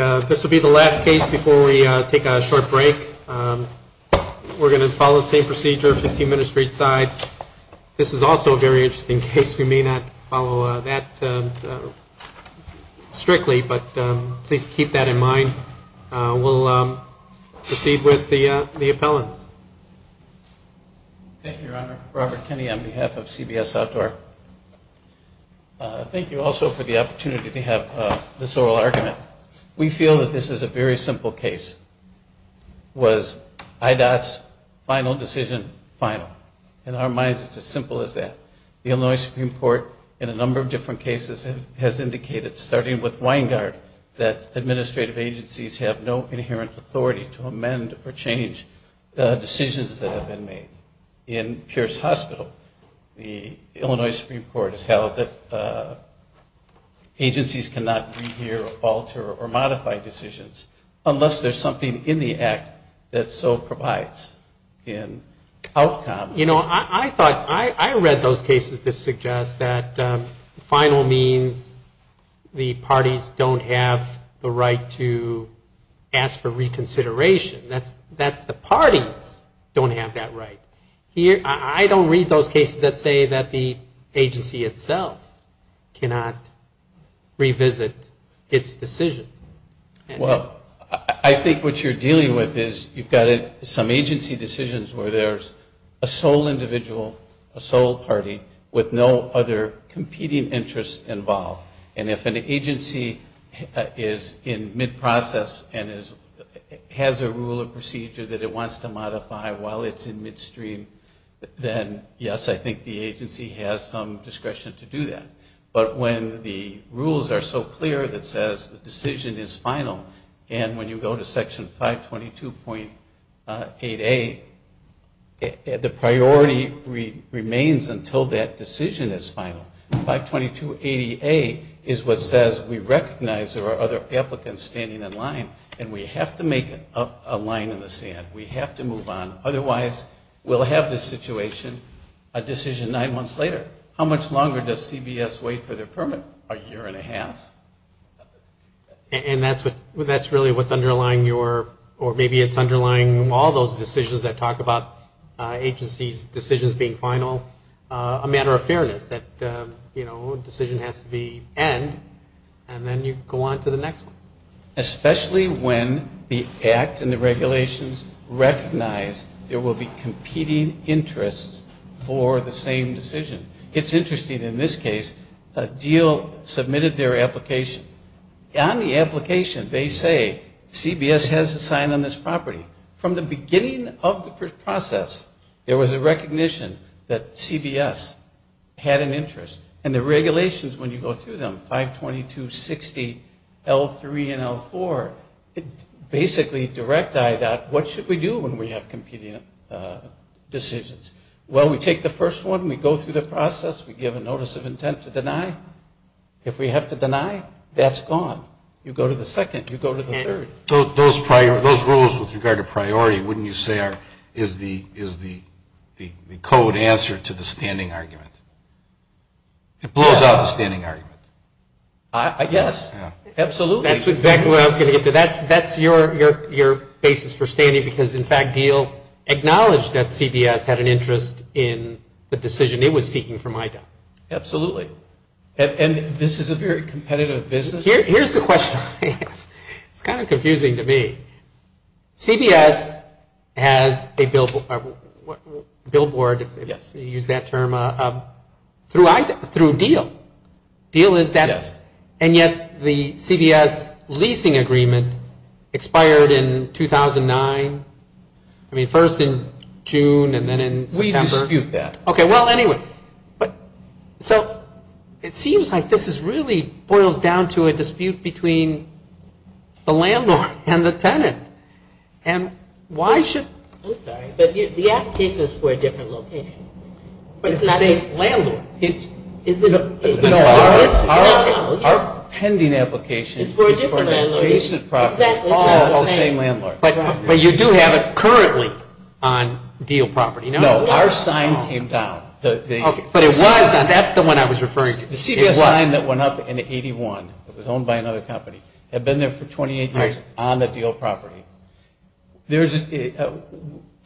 All right, this will be the last case before we take a short break. We're going to follow the same procedure, 15 minutes each side. This is also a very interesting case. We may not follow that strictly, but please keep that in mind. We'll proceed with the appellants. Thank you, Your Honor. Robert Kenney on behalf of CBS Outdoor. Thank you also for the opportunity to have this oral argument. We feel that this is a very simple case. Was IDOT's final decision In our minds, it's as simple as that. The Illinois Supreme Court, in a number of different cases, has indicated, starting with Weingart, that administrative agencies have no inherent authority to amend or change the decisions that have been made. In Pierce Hospital, the Illinois Supreme Court has held that agencies cannot re-hear, alter, or modify decisions unless there's something in the act that so provides an outcome. You know, I read those cases to suggest that final means the parties don't have the right to ask for reconsideration. That's the parties don't have that right. I don't read those cases that say that the agency itself cannot revisit its decision. Well, I think what you're dealing with is you've got some agency decisions where there's a sole individual, a sole party, with no other competing interests involved. And if an agency is in mid-process and has a rule or procedure that it wants to modify while it's in midstream, then yes, I think the agency has some discretion to do that. But when the rules are so clear that says the decision is final, and when you go to Section 522.8A, the priority remains until that decision is final. 522.80A is what says we recognize there are other applicants standing in line, and we have to make a line in the sand. We have to move on. Otherwise, we'll have this situation a decision nine months later. How much longer does CBS wait for their permit? A year and a half. And that's really what's underlying your, or maybe it's underlying all those decisions that talk about agencies' decisions being final. A matter of fairness that, you know, a decision has to be end, and then you go on to the next one. It's interesting. In this case, a deal submitted their application. On the application, they say CBS has a sign on this property. From the beginning of the process, there was a recognition that CBS had an interest. And the regulations when you go through them, 522.60L3 and L4, basically direct eye dot what should we do when we have competing decisions. Well, we take the first one, we go through the process, we give a notice of intent to deny. If we have to deny, that's gone. You go to the second. You go to the third. Those rules with regard to priority, wouldn't you say, is the code answer to the standing argument? It blows out the standing argument. Yes. Absolutely. That's exactly what I was going to get to. That's your basis for standing because, in fact, deal acknowledged that CBS had an interest in the decision it was seeking from eye dot. Absolutely. And this is a very competitive business. Here's the question. It's kind of confusing to me. CBS has a billboard, if you use that term, through deal. Deal is that. Yes. And yet the CBS leasing agreement expired in 2009. I mean, first in June and then in September. We dispute that. Okay. Well, anyway, so it seems like this really boils down to a dispute between the landlord and the tenant. And why should I'm sorry, but the application is for a different location. But it's the same landlord. No, our pending application is for an adjacent property. It's for a different landlord. All the same landlord. But you do have it currently on deal property. No, our sign came down. But it was, and that's the one I was referring to. The CBS sign that went up in 81, it was owned by another company, had been there for 28 years on the deal property.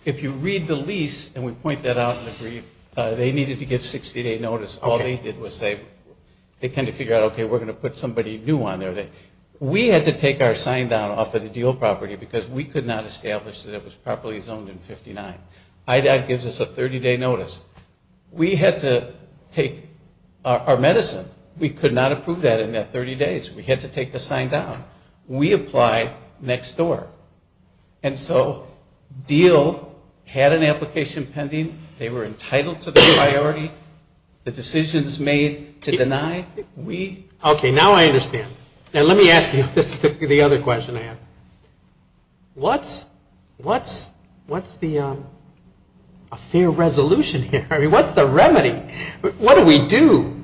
If you read the lease, and we point that out in the brief, they needed to give 60-day notice. All they did was say, they kind of figured out, okay, we're going to put somebody new on there. We had to take our sign down off of the deal property because we could not establish that it was properly zoned in 59. IDOT gives us a 30-day notice. We had to take our medicine. We could not approve that in that 30 days. We had to take the sign down. We applied next door. And so deal had an application pending. They were entitled to the priority. The decision was made to deny. Okay, now I understand. Now let me ask you the other question I have. What's the fair resolution here? I mean, what's the remedy? What do we do?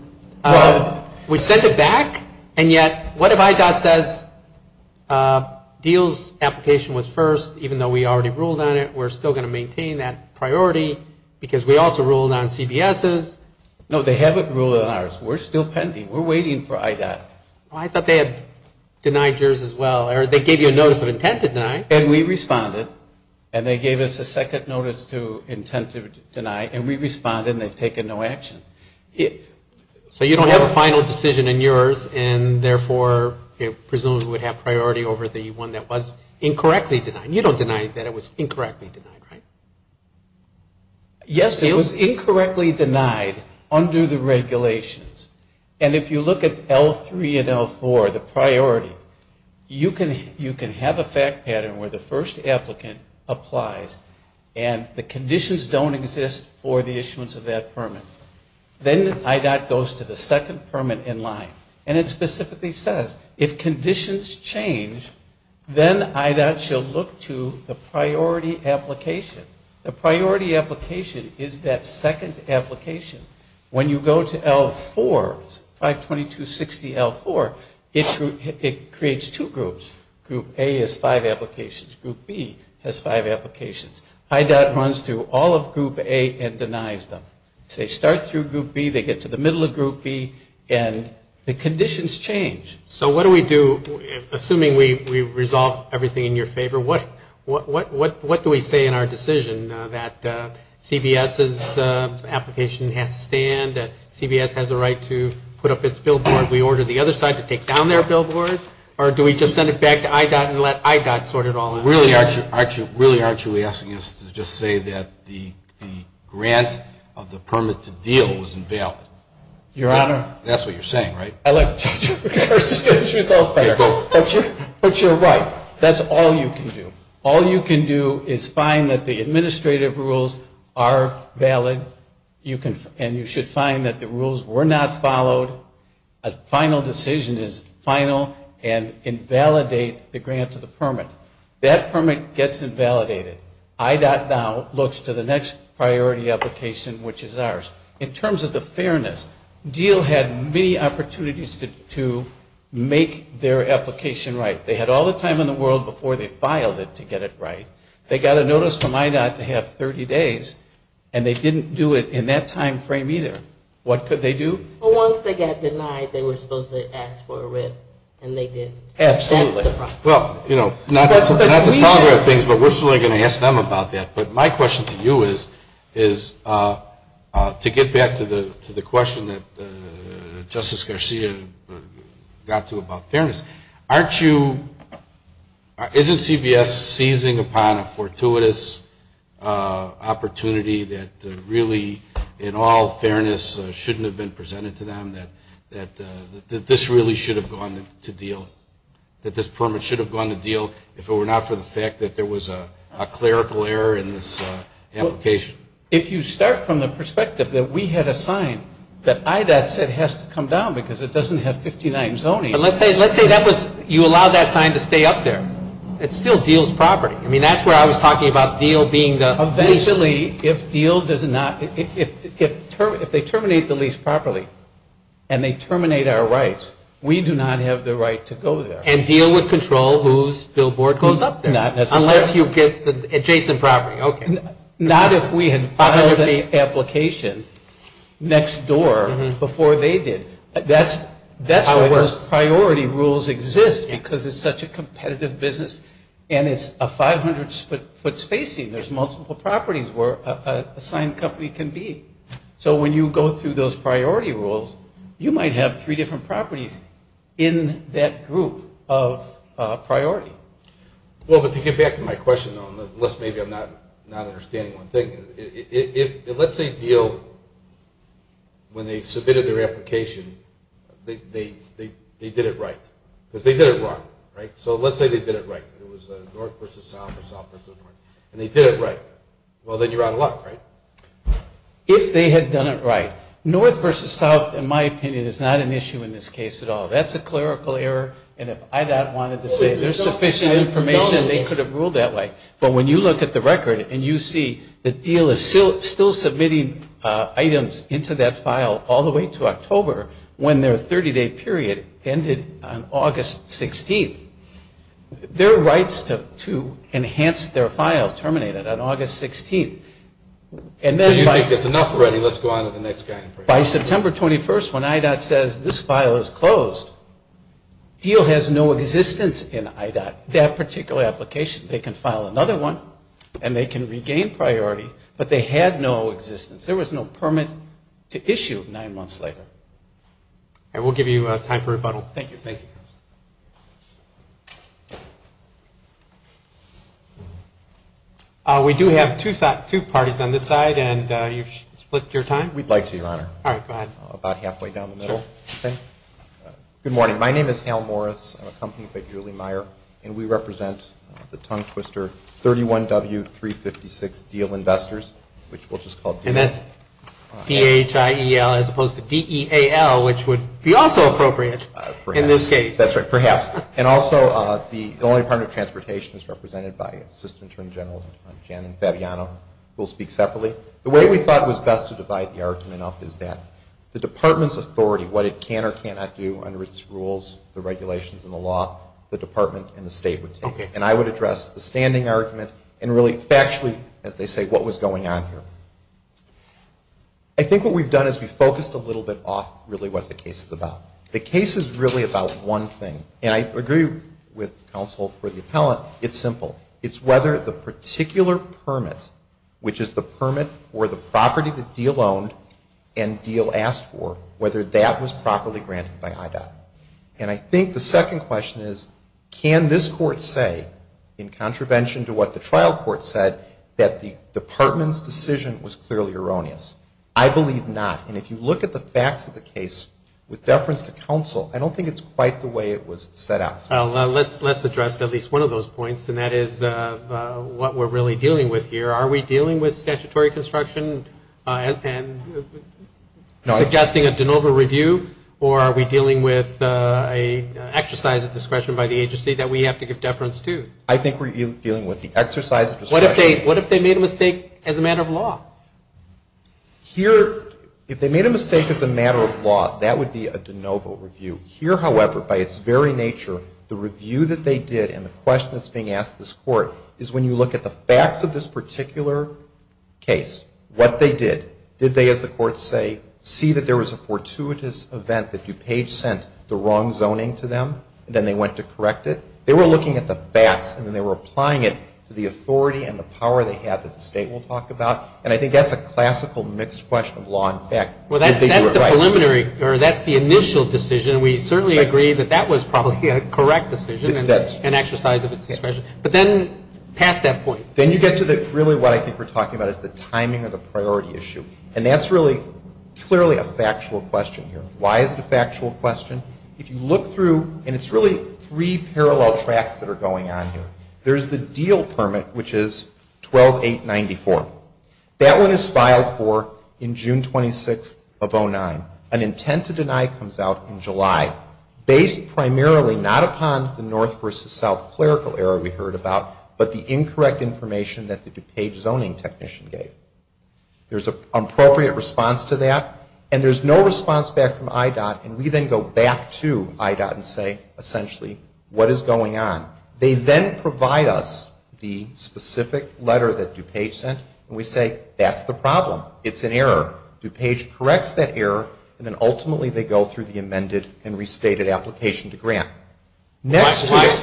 We send it back? And yet, what if IDOT says, deal's application was first, even though we already ruled on it, we're still going to maintain that No, they haven't ruled on ours. We're still pending. We're waiting for IDOT. I thought they had denied yours as well. Or they gave you a notice of intent to deny. And we responded. And they gave us a second notice to intent to deny. And we responded, and they've taken no action. So you don't have a final decision in yours, and therefore presumably would have priority over the one that was incorrectly denied. You don't deny that it was incorrectly denied, right? Yes, it was incorrectly denied under the regulations. And if you look at L3 and L4, the priority, you can have a fact pattern where the first applicant applies, and the conditions don't exist for the issuance of that permit. Then IDOT goes to the second permit in line. And it specifically says, if conditions change, then IDOT shall look to the priority application. The priority application is that second application. When you go to L4, 52260L4, it creates two groups. Group A has five applications. Group B has five applications. IDOT runs through all of Group A and denies them. They start through Group B. They get to the middle of Group B, and the conditions change. So what do we do, assuming we resolve everything in your favor? What do we say in our decision that CBS's application has to stand? CBS has a right to put up its billboard. We order the other side to take down their billboard? Or do we just send it back to IDOT and let IDOT sort it all out? Really, aren't you asking us to just say that the grant of the permit to deal was invalid? Your Honor. That's what you're saying, right? I like to judge you. But you're right. That's all you can do. All you can do is find that the administrative rules are valid, and you should find that the rules were not followed. A final decision is final and invalidate the grant to the permit. That permit gets invalidated. IDOT now looks to the next priority application, which is ours. In terms of the fairness, DEAL had many opportunities to make their application right. They had all the time in the world before they filed it to get it right. They got a notice from IDOT to have 30 days, and they didn't do it in that time frame either. What could they do? Well, once they got denied, they were supposed to ask for a rip, and they didn't. Absolutely. Well, you know, not to talk about things, but we're still going to ask them about that. But my question to you is, to get back to the question that Justice Garcia got to about fairness, isn't CBS seizing upon a fortuitous opportunity that really, in all fairness, shouldn't have been presented to them, that this really should have gone to DEAL, that this permit should have gone to DEAL, if it were not for the fact that there was a clerical error in this application? If you start from the perspective that we had assigned, that IDOT said it has to come down because it doesn't have 59 zoning. But let's say you allow that sign to stay up there. It's still DEAL's property. I mean, that's where I was talking about DEAL being the lease. Eventually, if DEAL does not, if they terminate the lease properly, and they terminate our rights, we do not have the right to go there. And DEAL would control whose billboard goes up there? Not necessarily. Unless you get adjacent property, okay. Not if we had filed an application next door before they did. That's why those priority rules exist because it's such a competitive business and it's a 500-foot spacing. There's multiple properties where an assigned company can be. So when you go through those priority rules, you might have three different properties in that group of priority. Well, but to get back to my question, unless maybe I'm not understanding one thing, let's say DEAL, when they submitted their application, they did it right. Because they did it wrong, right? So let's say they did it right. It was north versus south or south versus north. And they did it right. Well, then you're out of luck, right? If they had done it right. North versus south, in my opinion, is not an issue in this case at all. That's a clerical error. And if IDOT wanted to say there's sufficient information, they could have ruled that way. But when you look at the record and you see that DEAL is still submitting items into that file all the way to October, when their 30-day period ended on August 16th, their rights to enhance their file terminated on August 16th. So you think it's enough already. Let's go on to the next guy. By September 21st, when IDOT says this file is closed, DEAL has no existence in IDOT. That particular application, they can file another one and they can regain priority, but they had no existence. There was no permit to issue nine months later. All right. We'll give you time for rebuttal. Thank you. Thank you. We do have two parties on this side, and you've split your time. We'd like to, Your Honor. All right. Go ahead. About halfway down the middle. Good morning. My name is Hal Morris. I'm accompanied by Julie Meyer, and we represent the tongue-twister 31W356 DEAL Investors, which we'll just call DEAL. And that's D-H-I-E-L as opposed to D-E-A-L, which would be also appropriate in this case. Perhaps. That's right. Perhaps. And also the only Department of Transportation is represented by Assistant Attorney General Jan and Fabiano, who will speak separately. The way we thought it was best to divide the argument up is that the Department's authority, what it can or cannot do under its rules, the regulations and the law, the Department and the State would take. Okay. And I would address the standing argument and really factually, as they say, what was going on here. I think what we've done is we've focused a little bit off really what the case is about. The case is really about one thing, and I agree with counsel for the appellant. It's simple. It's whether the particular permit, which is the permit for the property that DEAL owned and DEAL asked for, whether that was properly granted by IDOT. And I think the second question is, can this court say, in contravention to what the trial court said, that the Department's decision was clearly erroneous? I believe not. And if you look at the facts of the case with deference to counsel, I don't think it's quite the way it was set out. Let's address at least one of those points, and that is what we're really dealing with here. Are we dealing with statutory construction and suggesting a de novo review, or are we dealing with an exercise of discretion by the agency that we have to give deference to? I think we're dealing with the exercise of discretion. What if they made a mistake as a matter of law? Here, if they made a mistake as a matter of law, that would be a de novo review. Here, however, by its very nature, the review that they did and the question that's being asked of this court is when you look at the facts of this particular case, what they did, did they, as the courts say, see that there was a fortuitous event that DuPage sent the wrong zoning to them, and then they went to correct it? They were looking at the facts, and then they were applying it to the authority and the power they had that the State will talk about. And I think that's a classical mixed question of law and fact. Well, that's the preliminary, or that's the initial decision. We certainly agree that that was probably a correct decision and exercise of its discretion. But then past that point. Then you get to really what I think we're talking about is the timing of the priority issue. And that's really clearly a factual question here. Why is it a factual question? If you look through, and it's really three parallel tracks that are going on here. There's the deal permit, which is 12-894. That one is filed for in June 26th of 2009. An intent to deny comes out in July. Based primarily not upon the north versus south clerical error we heard about, but the incorrect information that the DuPage zoning technician gave. There's an appropriate response to that, and there's no response back from IDOT, and we then go back to IDOT and say, essentially, what is going on? They then provide us the specific letter that DuPage sent, and we say, that's the problem. It's an error. DuPage corrects that error, and then ultimately they go through the amended and restated application to grant. Next slide.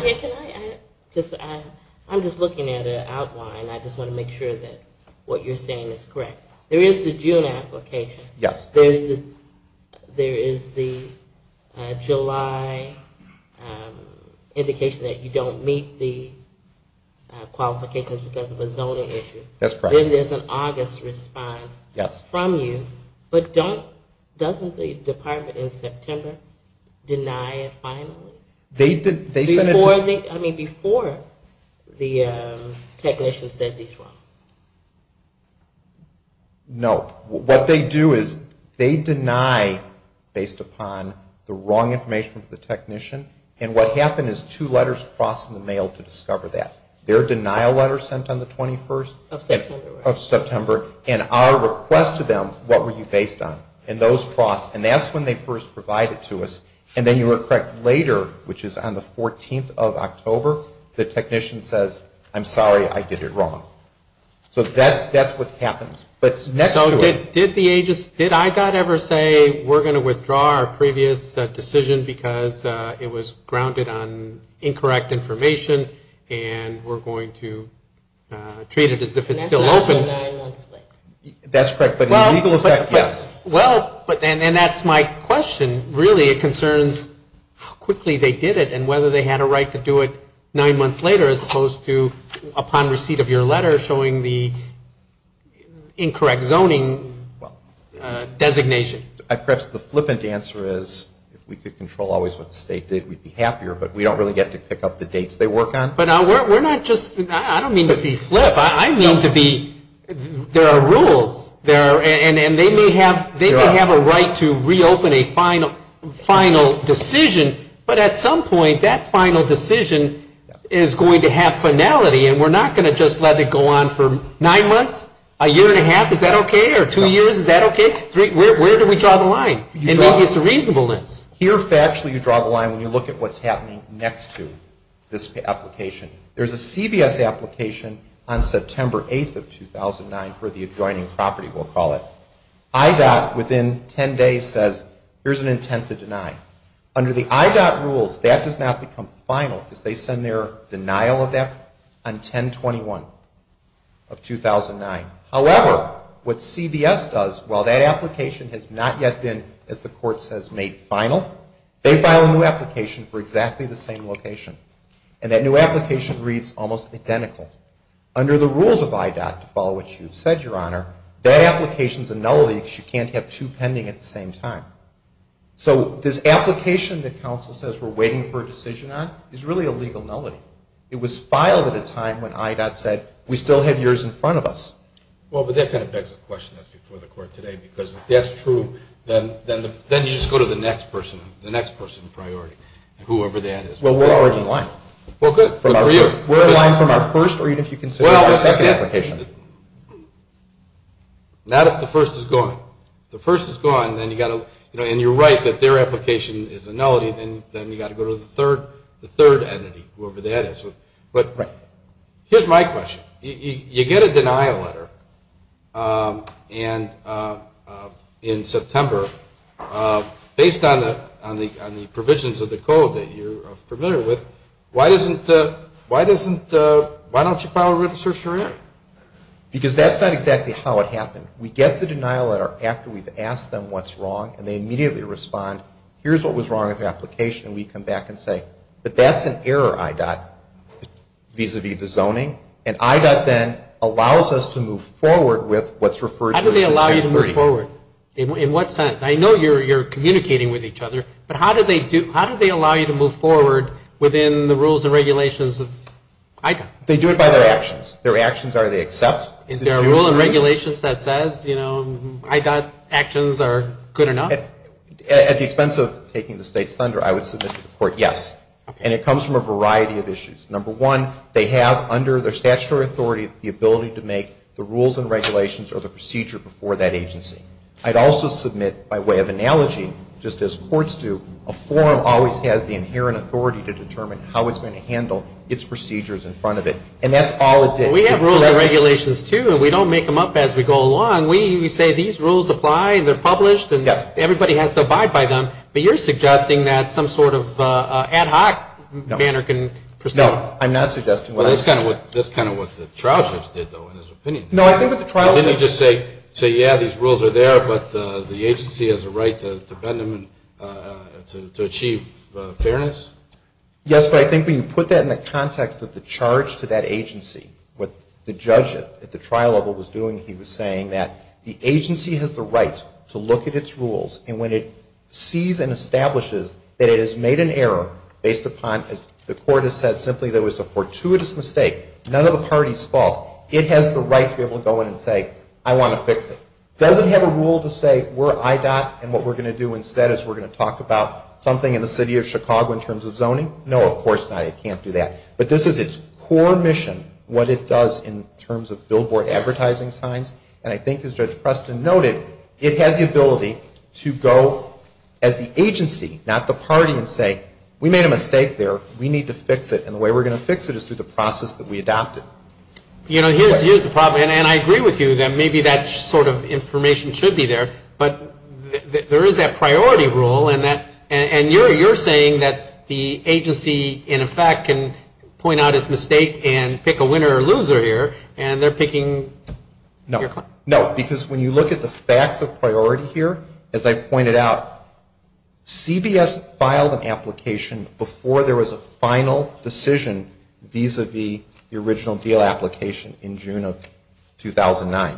I'm just looking at an outline. I just want to make sure that what you're saying is correct. There is the June application. Yes. There is the July indication that you don't meet the qualifications because of a zoning issue. That's correct. Then there's an August response from you, but doesn't the department in September deny it finally? Before the technician says he's wrong. No. What they do is they deny based upon the wrong information from the technician, and what happened is two letters crossed in the mail to discover that. Their denial letter sent on the 21st? Of September. Of September. And our request to them, what were you based on? And those crossed, and that's when they first provided to us. And then you were correct, later, which is on the 14th of October, the technician says, I'm sorry, I did it wrong. So that's what happens. But next to it. So did the agency, did IDOT ever say, we're going to withdraw our previous decision because it was grounded on incorrect information, and we're going to treat it as if it's still open? That's not until nine months later. That's correct. But in legal effect, yes. Well, and that's my question. Really, it concerns how quickly they did it and whether they had a right to do it nine months later as opposed to upon receipt of your letter showing the incorrect zoning designation. I think perhaps the flippant answer is if we could control always what the state did, we'd be happier, but we don't really get to pick up the dates they work on. But we're not just, I don't mean to be flip. I mean to be, there are rules, and they may have a right to reopen a final decision, but at some point that final decision is going to have finality, and we're not going to just let it go on for nine months, a year and a half, is that okay? Or two years, is that okay? Where do we draw the line? It's a reasonableness. Here, factually, you draw the line when you look at what's happening next to this application. There's a CBS application on September 8th of 2009 for the adjoining property, we'll call it. IDOT, within 10 days, says here's an intent to deny. Under the IDOT rules, that does not become final because they send their denial of that on 10-21 of 2009. However, what CBS does, while that application has not yet been, as the court says, made final, they file a new application for exactly the same location. And that new application reads almost identical. Under the rules of IDOT, to follow what you've said, Your Honor, that application's a nullity because you can't have two pending at the same time. So this application that counsel says we're waiting for a decision on is really a legal nullity. It was filed at a time when IDOT said we still have yours in front of us. Well, but that kind of begs the question, as before the court today, because if that's true, then you just go to the next person, the next person in priority, whoever that is. Well, we're already in line. Well, good. Good for you. We're in line from our first, even if you consider our second application. Well, not if the first is gone. If the first is gone, and you're right that their application is a nullity, then you've got to go to the third entity, whoever that is. But here's my question. You get a denial letter in September based on the provisions of the code that you're familiar with. Why don't you file a written certiorari? Because that's not exactly how it happened. We get the denial letter after we've asked them what's wrong, and they immediately respond, here's what was wrong with the application, and we come back and say, but that's an error, IDOT, vis-à-vis the zoning. And IDOT then allows us to move forward with what's referred to as the 1030. How do they allow you to move forward? In what sense? I know you're communicating with each other, but how do they allow you to move forward within the rules and regulations of IDOT? They do it by their actions. Their actions are they accept. Is there a rule and regulations that says, you know, IDOT actions are good or not? At the expense of taking the state's thunder, I would submit to the court, yes. And it comes from a variety of issues. Number one, they have under their statutory authority the ability to make the rules and regulations or the procedure before that agency. I'd also submit by way of analogy, just as courts do, a forum always has the inherent authority to determine how it's going to handle its procedures in front of it. And that's all it did. We have rules and regulations, too, and we don't make them up as we go along. We say these rules apply and they're published and everybody has to abide by them. But you're suggesting that some sort of ad hoc manner can proceed. No, I'm not suggesting that. That's kind of what the trial judge did, though, in his opinion. Didn't he just say, yeah, these rules are there, but the agency has a right to bend them and to achieve fairness? Yes, but I think when you put that in the context of the charge to that agency, what the judge at the trial level was doing, he was saying that the agency has the right to look at its rules and when it sees and establishes that it has made an error based upon, as the court has said simply, that it was a fortuitous mistake, none of the party's fault, it has the right to be able to go in and say, I want to fix it. It doesn't have a rule to say, we're IDOT and what we're going to do instead is we're going to talk about something in the city of Chicago in terms of zoning. No, of course not. It can't do that. But this is its core mission, what it does in terms of billboard advertising signs, and I think as Judge Preston noted, it had the ability to go as the agency, not the party, and say, we made a mistake there, we need to fix it, and the way we're going to fix it is through the process that we adopted. You know, here's the problem, and I agree with you that maybe that sort of information should be there, but there is that priority rule, and you're saying that the agency, in effect, can point out its mistake and pick a winner or loser here, and they're picking your client. No, because when you look at the facts of priority here, as I pointed out, CBS filed an application before there was a final decision vis-a-vis the original deal application in June of 2009.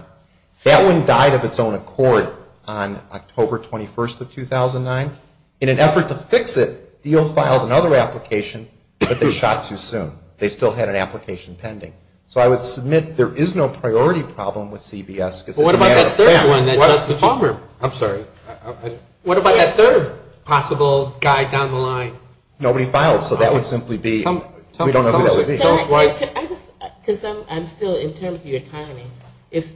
That one died of its own accord on October 21st of 2009. In an effort to fix it, the deal filed another application, but they shot too soon. They still had an application pending. So I would submit there is no priority problem with CBS because it's a matter of fact. What about that third one? I'm sorry. What about that third possible guy down the line? Nobody filed, so that would simply be, we don't know who that would be. Because I'm still, in terms of your timing, if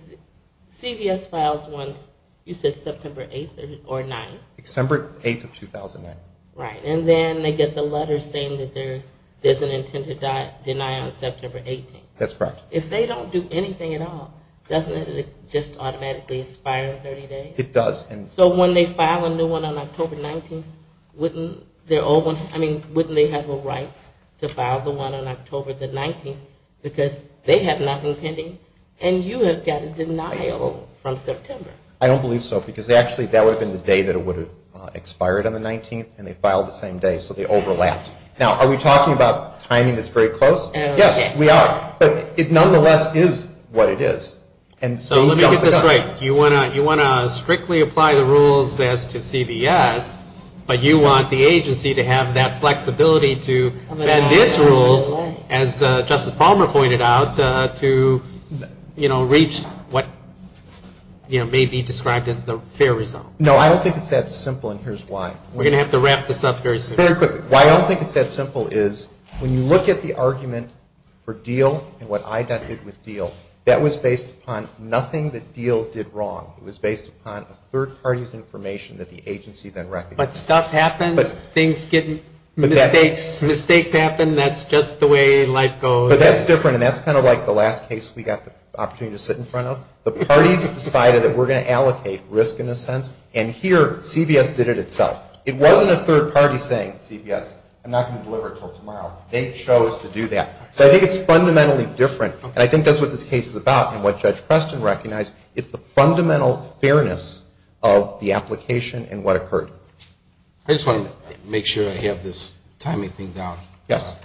CBS files once, you said September 8th or 9th? December 8th of 2009. Right, and then they get the letter saying that there's an intended deny on September 18th. That's correct. If they don't do anything at all, doesn't it just automatically expire in 30 days? It does. So when they file a new one on October 19th, wouldn't they have a right to file the one on October 19th because they have nothing pending and you have got a denial from September? I don't believe so because actually that would have been the day that it would have expired on the 19th and they filed the same day, so they overlapped. Now, are we talking about timing that's very close? Yes, we are. But it nonetheless is what it is. So let me get this right. You want to strictly apply the rules as to CBS, but you want the agency to have that flexibility to bend its rules, as Justice Palmer pointed out, to reach what may be described as the fair result. No, I don't think it's that simple, and here's why. We're going to have to wrap this up very soon. Very quickly. Why I don't think it's that simple is when you look at the argument for deal and what I did with deal, that was based upon nothing that deal did wrong. It was based upon a third party's information that the agency then recognized. But stuff happens. Mistakes happen. That's just the way life goes. But that's different, and that's kind of like the last case we got the opportunity to sit in front of. The parties decided that we're going to allocate risk in a sense, and here CBS did it itself. It wasn't a third party saying, CBS, I'm not going to deliver it until tomorrow. They chose to do that. So I think it's fundamentally different, and I think that's what this case is about and what Judge Preston recognized. It's the fundamental fairness of the application and what occurred. I just want to make sure I have this timing thing down. Yes.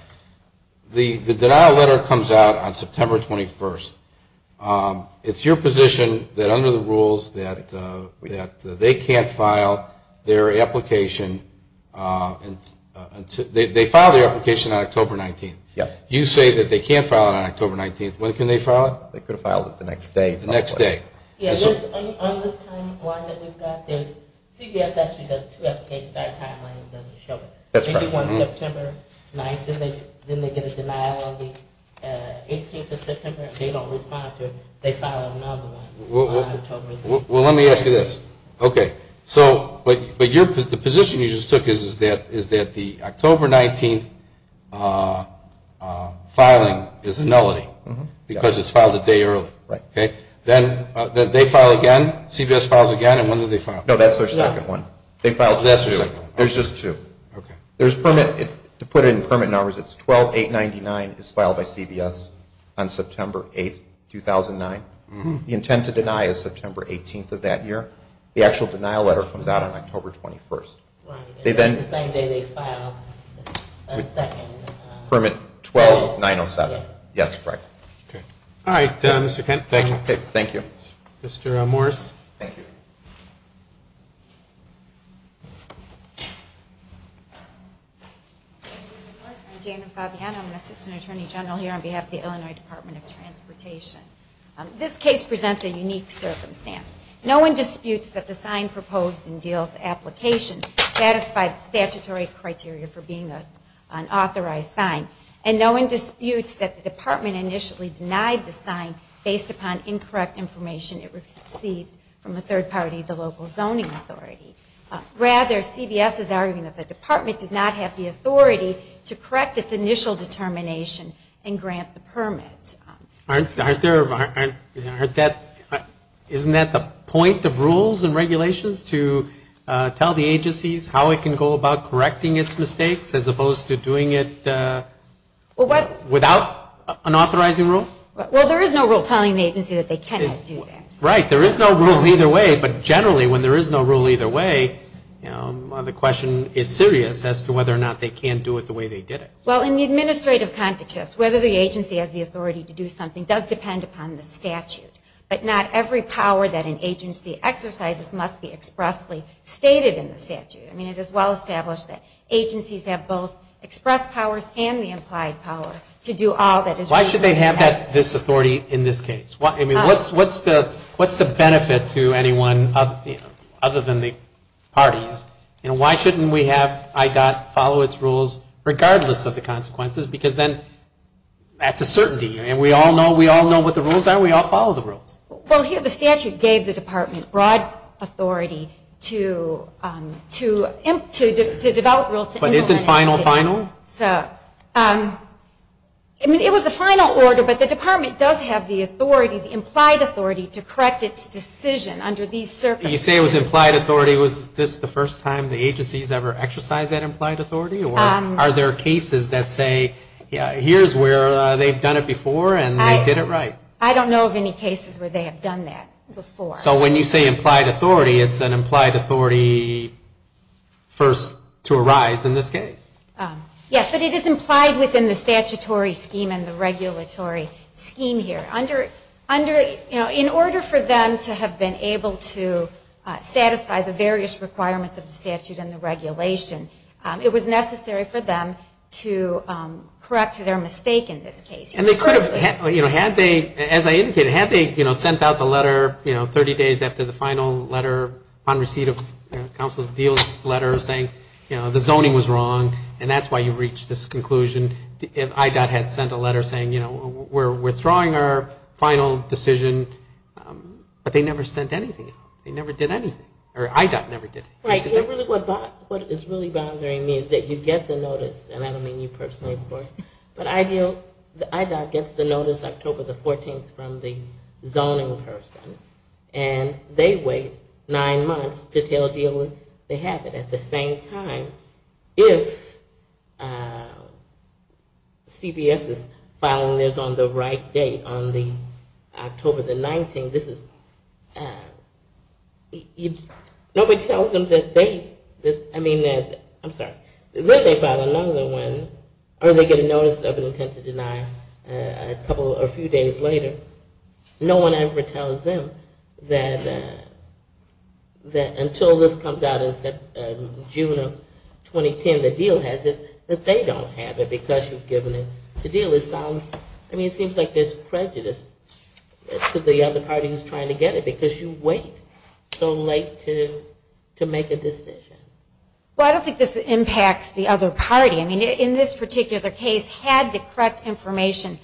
The denial letter comes out on September 21st. It's your position that under the rules that they can't file their application. They filed their application on October 19th. Yes. You say that they can't file it on October 19th. When can they file it? They could have filed it the next day. The next day. Yes. On this timeline that we've got, CBS actually does two applications at a time when it doesn't show. That's right. They do one September 9th, then they get a denial on the 18th of September. They don't respond to it. They file another one on October. Well, let me ask you this. Okay. But the position you just took is that the October 19th filing is a nullity because it's filed a day early. Right. Then they file again, CBS files again, and when do they file? No, that's their second one. They filed two. There's just two. To put it in permit numbers, it's 12-899. It's filed by CBS on September 8th, 2009. The intent to deny is September 18th of that year. The actual denial letter comes out on October 21st. Right. And that's the same day they filed the second. Permit 12-907. Yes, correct. Okay. All right, Mr. Kent, thank you. Thank you. Mr. Morris. Thank you. I'm Dana Fabiana. I'm an assistant attorney general here on behalf of the Illinois Department of Transportation. This case presents a unique circumstance. No one disputes that the sign proposed in Diehl's application satisfied statutory criteria for being an authorized sign, and no one disputes that the department initially denied the sign based upon incorrect information it received from a third party, the local zoning authority. Rather, CBS is arguing that the department did not have the authority to correct its initial determination and grant the permit. Aren't there, aren't that, isn't that the point of rules and regulations to tell the agencies how it can go about correcting its mistakes as opposed to doing it without an authorizing rule? Well, there is no rule telling the agency that they cannot do that. Right. There is no rule either way, but generally when there is no rule either way, the question is serious as to whether or not they can do it the way they did it. Well, in the administrative context, whether the agency has the authority to do something does depend upon the statute, but not every power that an agency exercises must be expressly stated in the statute. I mean, it is well established that agencies have both express powers and the implied power to do all that is required. Why should they have this authority in this case? I mean, what's the benefit to anyone other than the parties? You know, why shouldn't we have IDOT follow its rules regardless of the consequences? Because then that's a certainty. I mean, we all know what the rules are. We all follow the rules. Well, here the statute gave the department broad authority to develop rules. But is it final, final? I mean, it was a final order, but the department does have the authority, the implied authority to correct its decision under these circumstances. When you say it was implied authority, was this the first time the agency has ever exercised that implied authority? Or are there cases that say, yeah, here's where they've done it before and they did it right? I don't know of any cases where they have done that before. So when you say implied authority, it's an implied authority first to arise in this case? Yes, but it is implied within the statutory scheme and the regulatory scheme here. In order for them to have been able to satisfy the various requirements of the statute and the regulation, it was necessary for them to correct their mistake in this case. And they could have, you know, had they, as I indicated, had they, you know, sent out the letter, you know, 30 days after the final letter on receipt of counsel's deal letter saying, you know, the zoning was wrong and that's why you reached this conclusion. And IDOT had sent a letter saying, you know, we're withdrawing our final decision, but they never sent anything out. They never did anything. Or IDOT never did anything. Right. What is really bothering me is that you get the notice, and I don't mean you personally, of course, but IDOT gets the notice October the 14th from the zoning person. And they wait nine months to tell DO they have it. At the same time, if CBS is filing this on the right date, on the October the 19th, this is, nobody tells them that they, I mean that, I'm sorry, that they filed another one, or they get a notice of intent to deny a couple or a few days later. No one ever tells them that until this comes out in June of 2010, the deal has it, that they don't have it because you've given it to DO. It sounds, I mean, it seems like there's prejudice to the other party who's trying to get it because you wait so late to make a decision. Well, I don't think this impacts the other party. I mean, in this particular case, had the correct information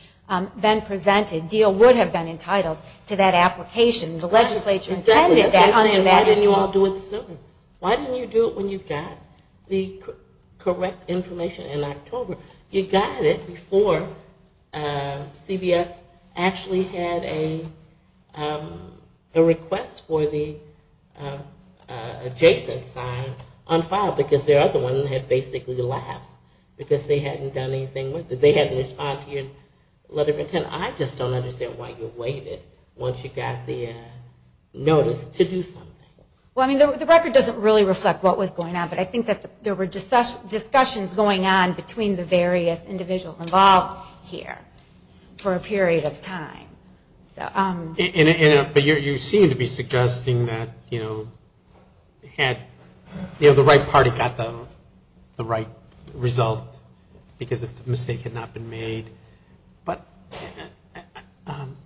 been presented, the deal would have been entitled to that application. The legislature intended that. Why didn't you all do it sooner? Why didn't you do it when you got the correct information in October? You got it before CBS actually had a request for the adjacent sign on file because their other one had basically lapsed because they hadn't done anything with it. I just don't understand why you waited once you got the notice to do something. Well, I mean, the record doesn't really reflect what was going on, but I think that there were discussions going on between the various individuals involved here for a period of time. But you seem to be suggesting that, you know, the right party got the right result because the mistake had not been made. But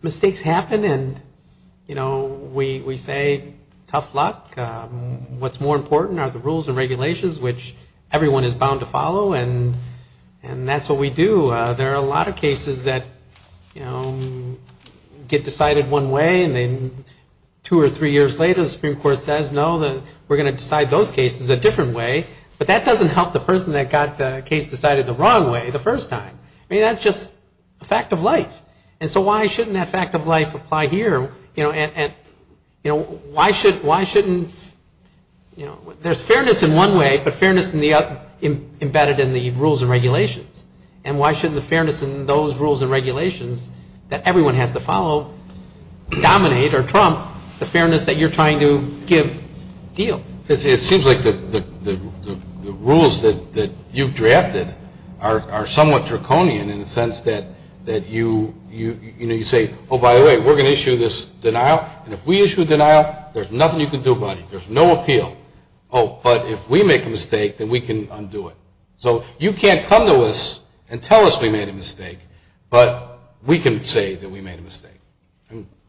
mistakes happen, and, you know, we say tough luck. What's more important are the rules and regulations, which everyone is bound to follow, and that's what we do. There are a lot of cases that, you know, get decided one way, and then two or three years later the Supreme Court says, no, we're going to decide those cases a different way. But that doesn't help the person that got the case decided the wrong way the first time. I mean, that's just a fact of life. And so why shouldn't that fact of life apply here? You know, why shouldn't, you know, there's fairness in one way, but fairness embedded in the rules and regulations. And why shouldn't the fairness in those rules and regulations that everyone has to follow dominate or trump the fairness that you're trying to give deal? It seems like the rules that you've drafted are somewhat draconian in the sense that you say, oh, by the way, we're going to issue this denial, and if we issue a denial, there's nothing you can do about it. There's no appeal. Oh, but if we make a mistake, then we can undo it. So you can't come to us and tell us we made a mistake, but we can say that we made a mistake.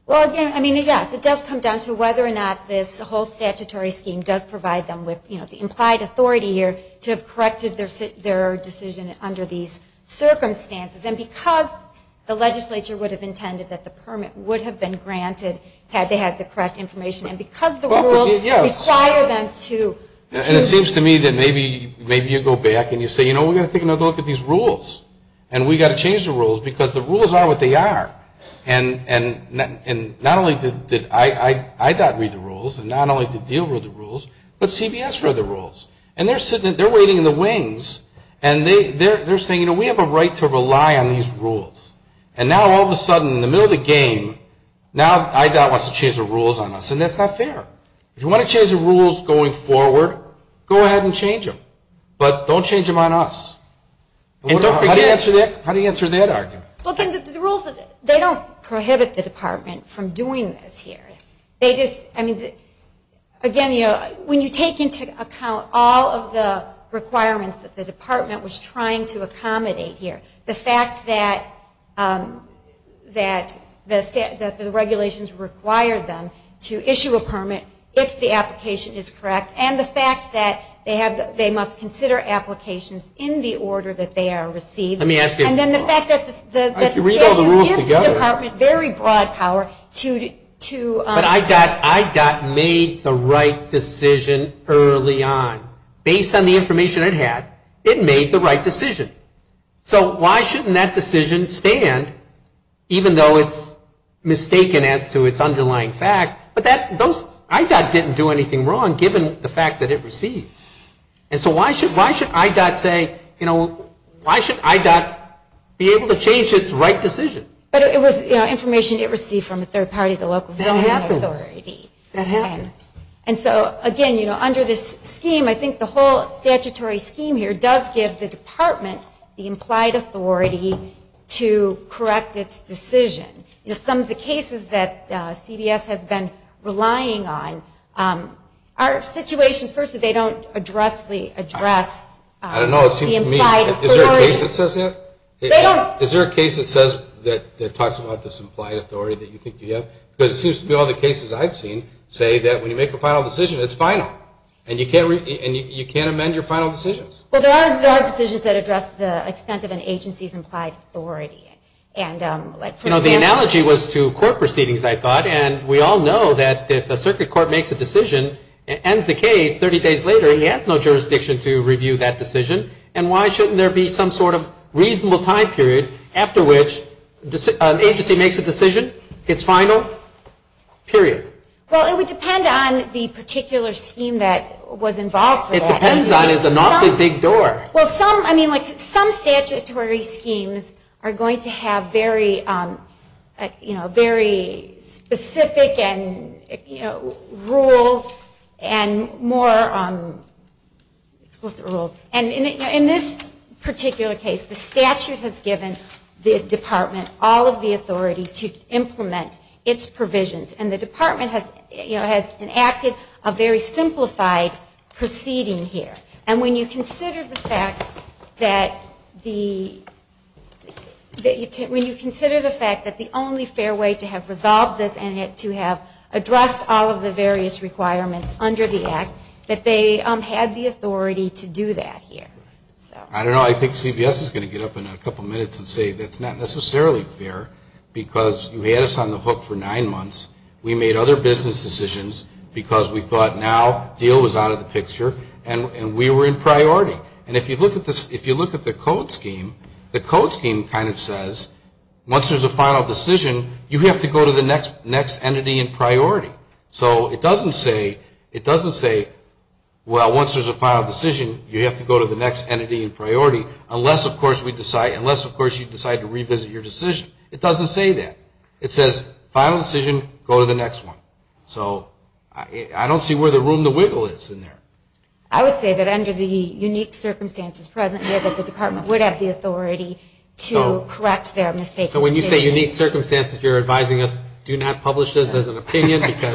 Well, again, I mean, yes, it does come down to whether or not this whole statutory scheme does provide them with, you know, the implied authority here to have corrected their decision under these circumstances. And because the legislature would have intended that the permit would have been granted had they had the correct information, and because the rules require them to. And it seems to me that maybe you go back and you say, you know, we've got to take another look at these rules. And we've got to change the rules because the rules are what they are. And not only did IDOT read the rules, and not only did DEAL read the rules, but CBS read the rules. And they're waiting in the wings, and they're saying, you know, we have a right to rely on these rules. And now all of a sudden, in the middle of the game, now IDOT wants to change the rules on us, and that's not fair. If you want to change the rules going forward, go ahead and change them. But don't change them on us. How do you answer that argument? Well, the rules, they don't prohibit the department from doing this here. They just, I mean, again, you know, when you take into account all of the requirements that the department was trying to accommodate here, the fact that the regulations required them to issue a permit if the application is correct, and the fact that they must consider applications in the order that they are received. Let me ask you. And then the fact that the statute gives the department very broad power to. But IDOT made the right decision early on. Based on the information it had, it made the right decision. So why shouldn't that decision stand, even though it's mistaken as to its underlying facts? But those, IDOT didn't do anything wrong, given the fact that it received. And so why should IDOT say, you know, why should IDOT be able to change its right decision? But it was information it received from a third party, the local zoning authority. That happens. And so, again, you know, under this scheme, I think the whole statutory scheme here does give the department the implied authority to correct its decision. You know, some of the cases that CBS has been relying on are situations, first, that they don't address the implied authority. I don't know. It seems to me. Is there a case that says that? They don't. Is there a case that says, that talks about this implied authority that you think you have? Because it seems to me all the cases I've seen say that when you make a final decision, it's final. And you can't amend your final decisions. Well, there are decisions that address the extent of an agency's implied authority. You know, the analogy was to court proceedings, I thought. And we all know that if a circuit court makes a decision and ends the case 30 days later, he has no jurisdiction to review that decision. And why shouldn't there be some sort of reasonable time period after which an agency makes a decision? It's final. Period. Well, it would depend on the particular scheme that was involved. It depends on. It's an awfully big door. Well, some statutory schemes are going to have very specific rules and more explicit rules. And in this particular case, the statute has given the department all of the authority to implement its provisions. And the department has enacted a very simplified proceeding here. And when you consider the fact that the only fair way to have resolved this and to have addressed all of the various requirements under the Act, that they had the authority to do that here. I don't know. I think CBS is going to get up in a couple of minutes and say that's not necessarily fair because you had us on the hook for nine months. We made other business decisions because we thought now deal was out of the picture. And we were in priority. And if you look at the code scheme, the code scheme kind of says once there's a final decision, you have to go to the next entity in priority. So it doesn't say, well, once there's a final decision, you have to go to the next entity in priority, unless, of course, you decide to revisit your decision. It doesn't say that. It says final decision, go to the next one. So I don't see where the room to wiggle is in there. I would say that under the unique circumstances present here, that the department would have the authority to correct their mistakes. So when you say unique circumstances, you're advising us do not publish this as an opinion? Let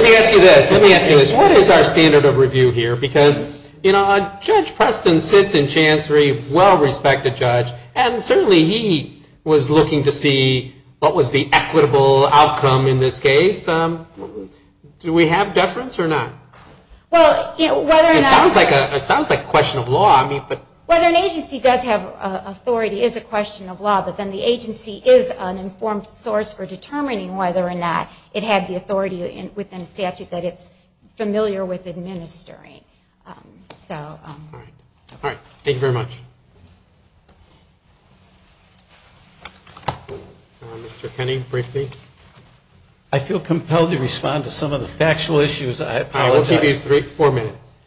me ask you this. Let me ask you this. What is our standard of review here? Because, you know, Judge Preston sits in chancery, well-respected judge, and certainly he was looking to see what was the equitable outcome in this case. Do we have deference or not? It sounds like a question of law. Whether an agency does have authority is a question of law, but then the agency is an informed source for determining whether or not it had the authority within a statute that it's familiar with administering. All right. Thank you very much. Mr. Kenney, briefly. I feel compelled to respond to some of the factual issues. I apologize. I will give you four minutes.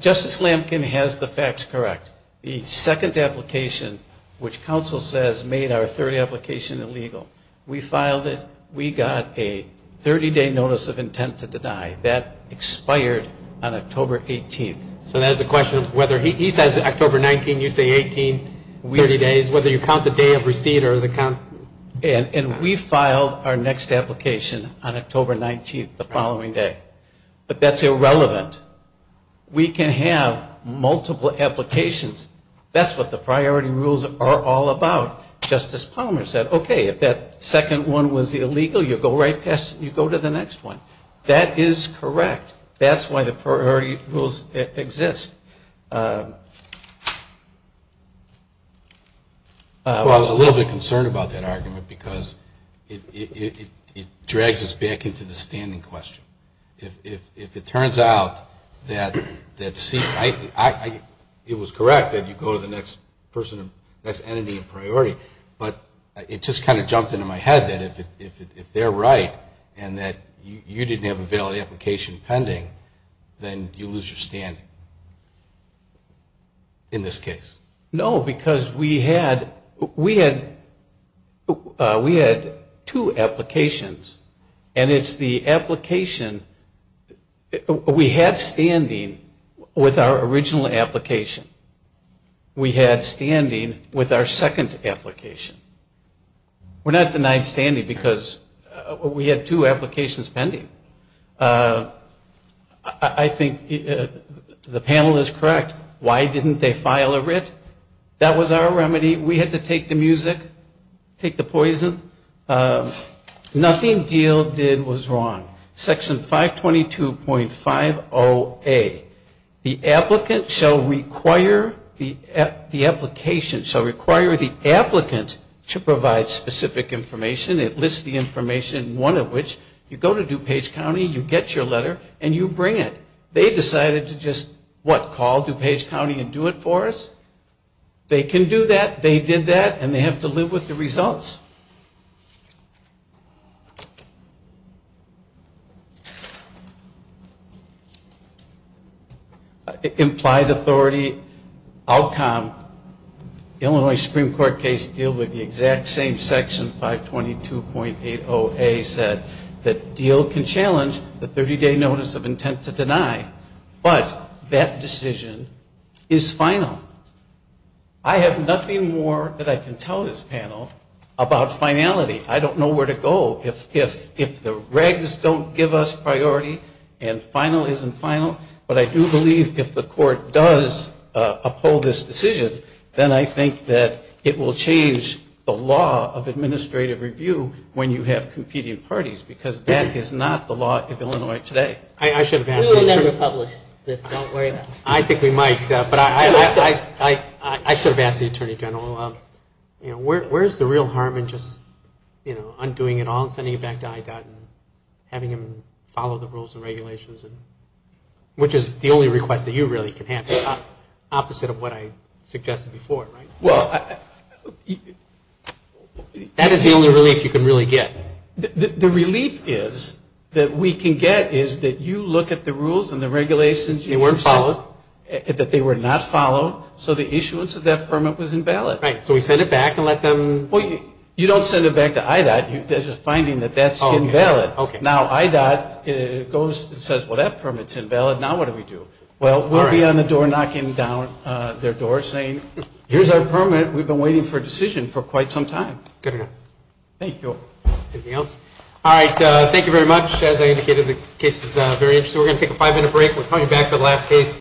Justice Lampkin has the facts correct. The second application, which counsel says made our third application illegal, we filed it. We got a 30-day notice of intent to deny. That expired on October 18th. So that is a question of whether he says October 19th, you say 18, 30 days, whether you count the day of receipt or the count. And we filed our next application on October 19th, the following day. But that's irrelevant. We can have multiple applications. That's what the priority rules are all about. Justice Palmer said, okay, if that second one was illegal, you go right past it, you go to the next one. That is correct. That's why the priority rules exist. Well, I was a little bit concerned about that argument because it drags us back into the standing question. If it turns out that it was correct that you go to the next entity in priority, but it just kind of jumped into my head that if they're right and that you didn't have a valid application pending, then you lose your standing in this case. No, because we had two applications. And it's the application we had standing with our original application. We had standing with our second application. We're not denied standing because we had two applications pending. I think the panel is correct. Why didn't they file a writ? That was our remedy. We had to take the music, take the poison. Nothing Diehl did was wrong. Section 522.50A. The applicant shall require the application shall require the applicant to provide specific information. It lists the information, one of which you go to DuPage County, you get your letter, and you bring it. They decided to just, what, call DuPage County and do it for us? They can do that. They did that, and they have to live with the results. Implied authority outcome, Illinois Supreme Court case deal with the exact same section, 522.80A, said that Diehl can challenge the 30-day notice of intent to deny, but that decision is final. I have nothing more that I can tell this panel about finality. I don't know where to go if the regs don't give us priority and final isn't final, but I do believe if the court does uphold this decision, then I think that it will change the law of administrative review when you have competing parties, because that is not the law of Illinois today. We will never publish this, don't worry about it. I think we might, but I should have asked the Attorney General, where is the real harm in just undoing it all and sending it back to IDOT and having them follow the rules and regulations, which is the only request that you really can have, opposite of what I suggested before, right? Well, that is the only relief you can really get. The relief is that we can get is that you look at the rules and the regulations. They weren't followed? That they were not followed, so the issuance of that permit was invalid. Right, so we send it back and let them? Well, you don't send it back to IDOT. There's a finding that that's invalid. Now IDOT goes and says, well, that permit's invalid. Now what do we do? Well, we'll be on the door knocking down their door saying, here's our permit. We've been waiting for a decision for quite some time. Good enough. Thank you. Anything else? All right, thank you very much. As I indicated, the case is very interesting. We're going to take a five-minute break. We'll come back for the last case.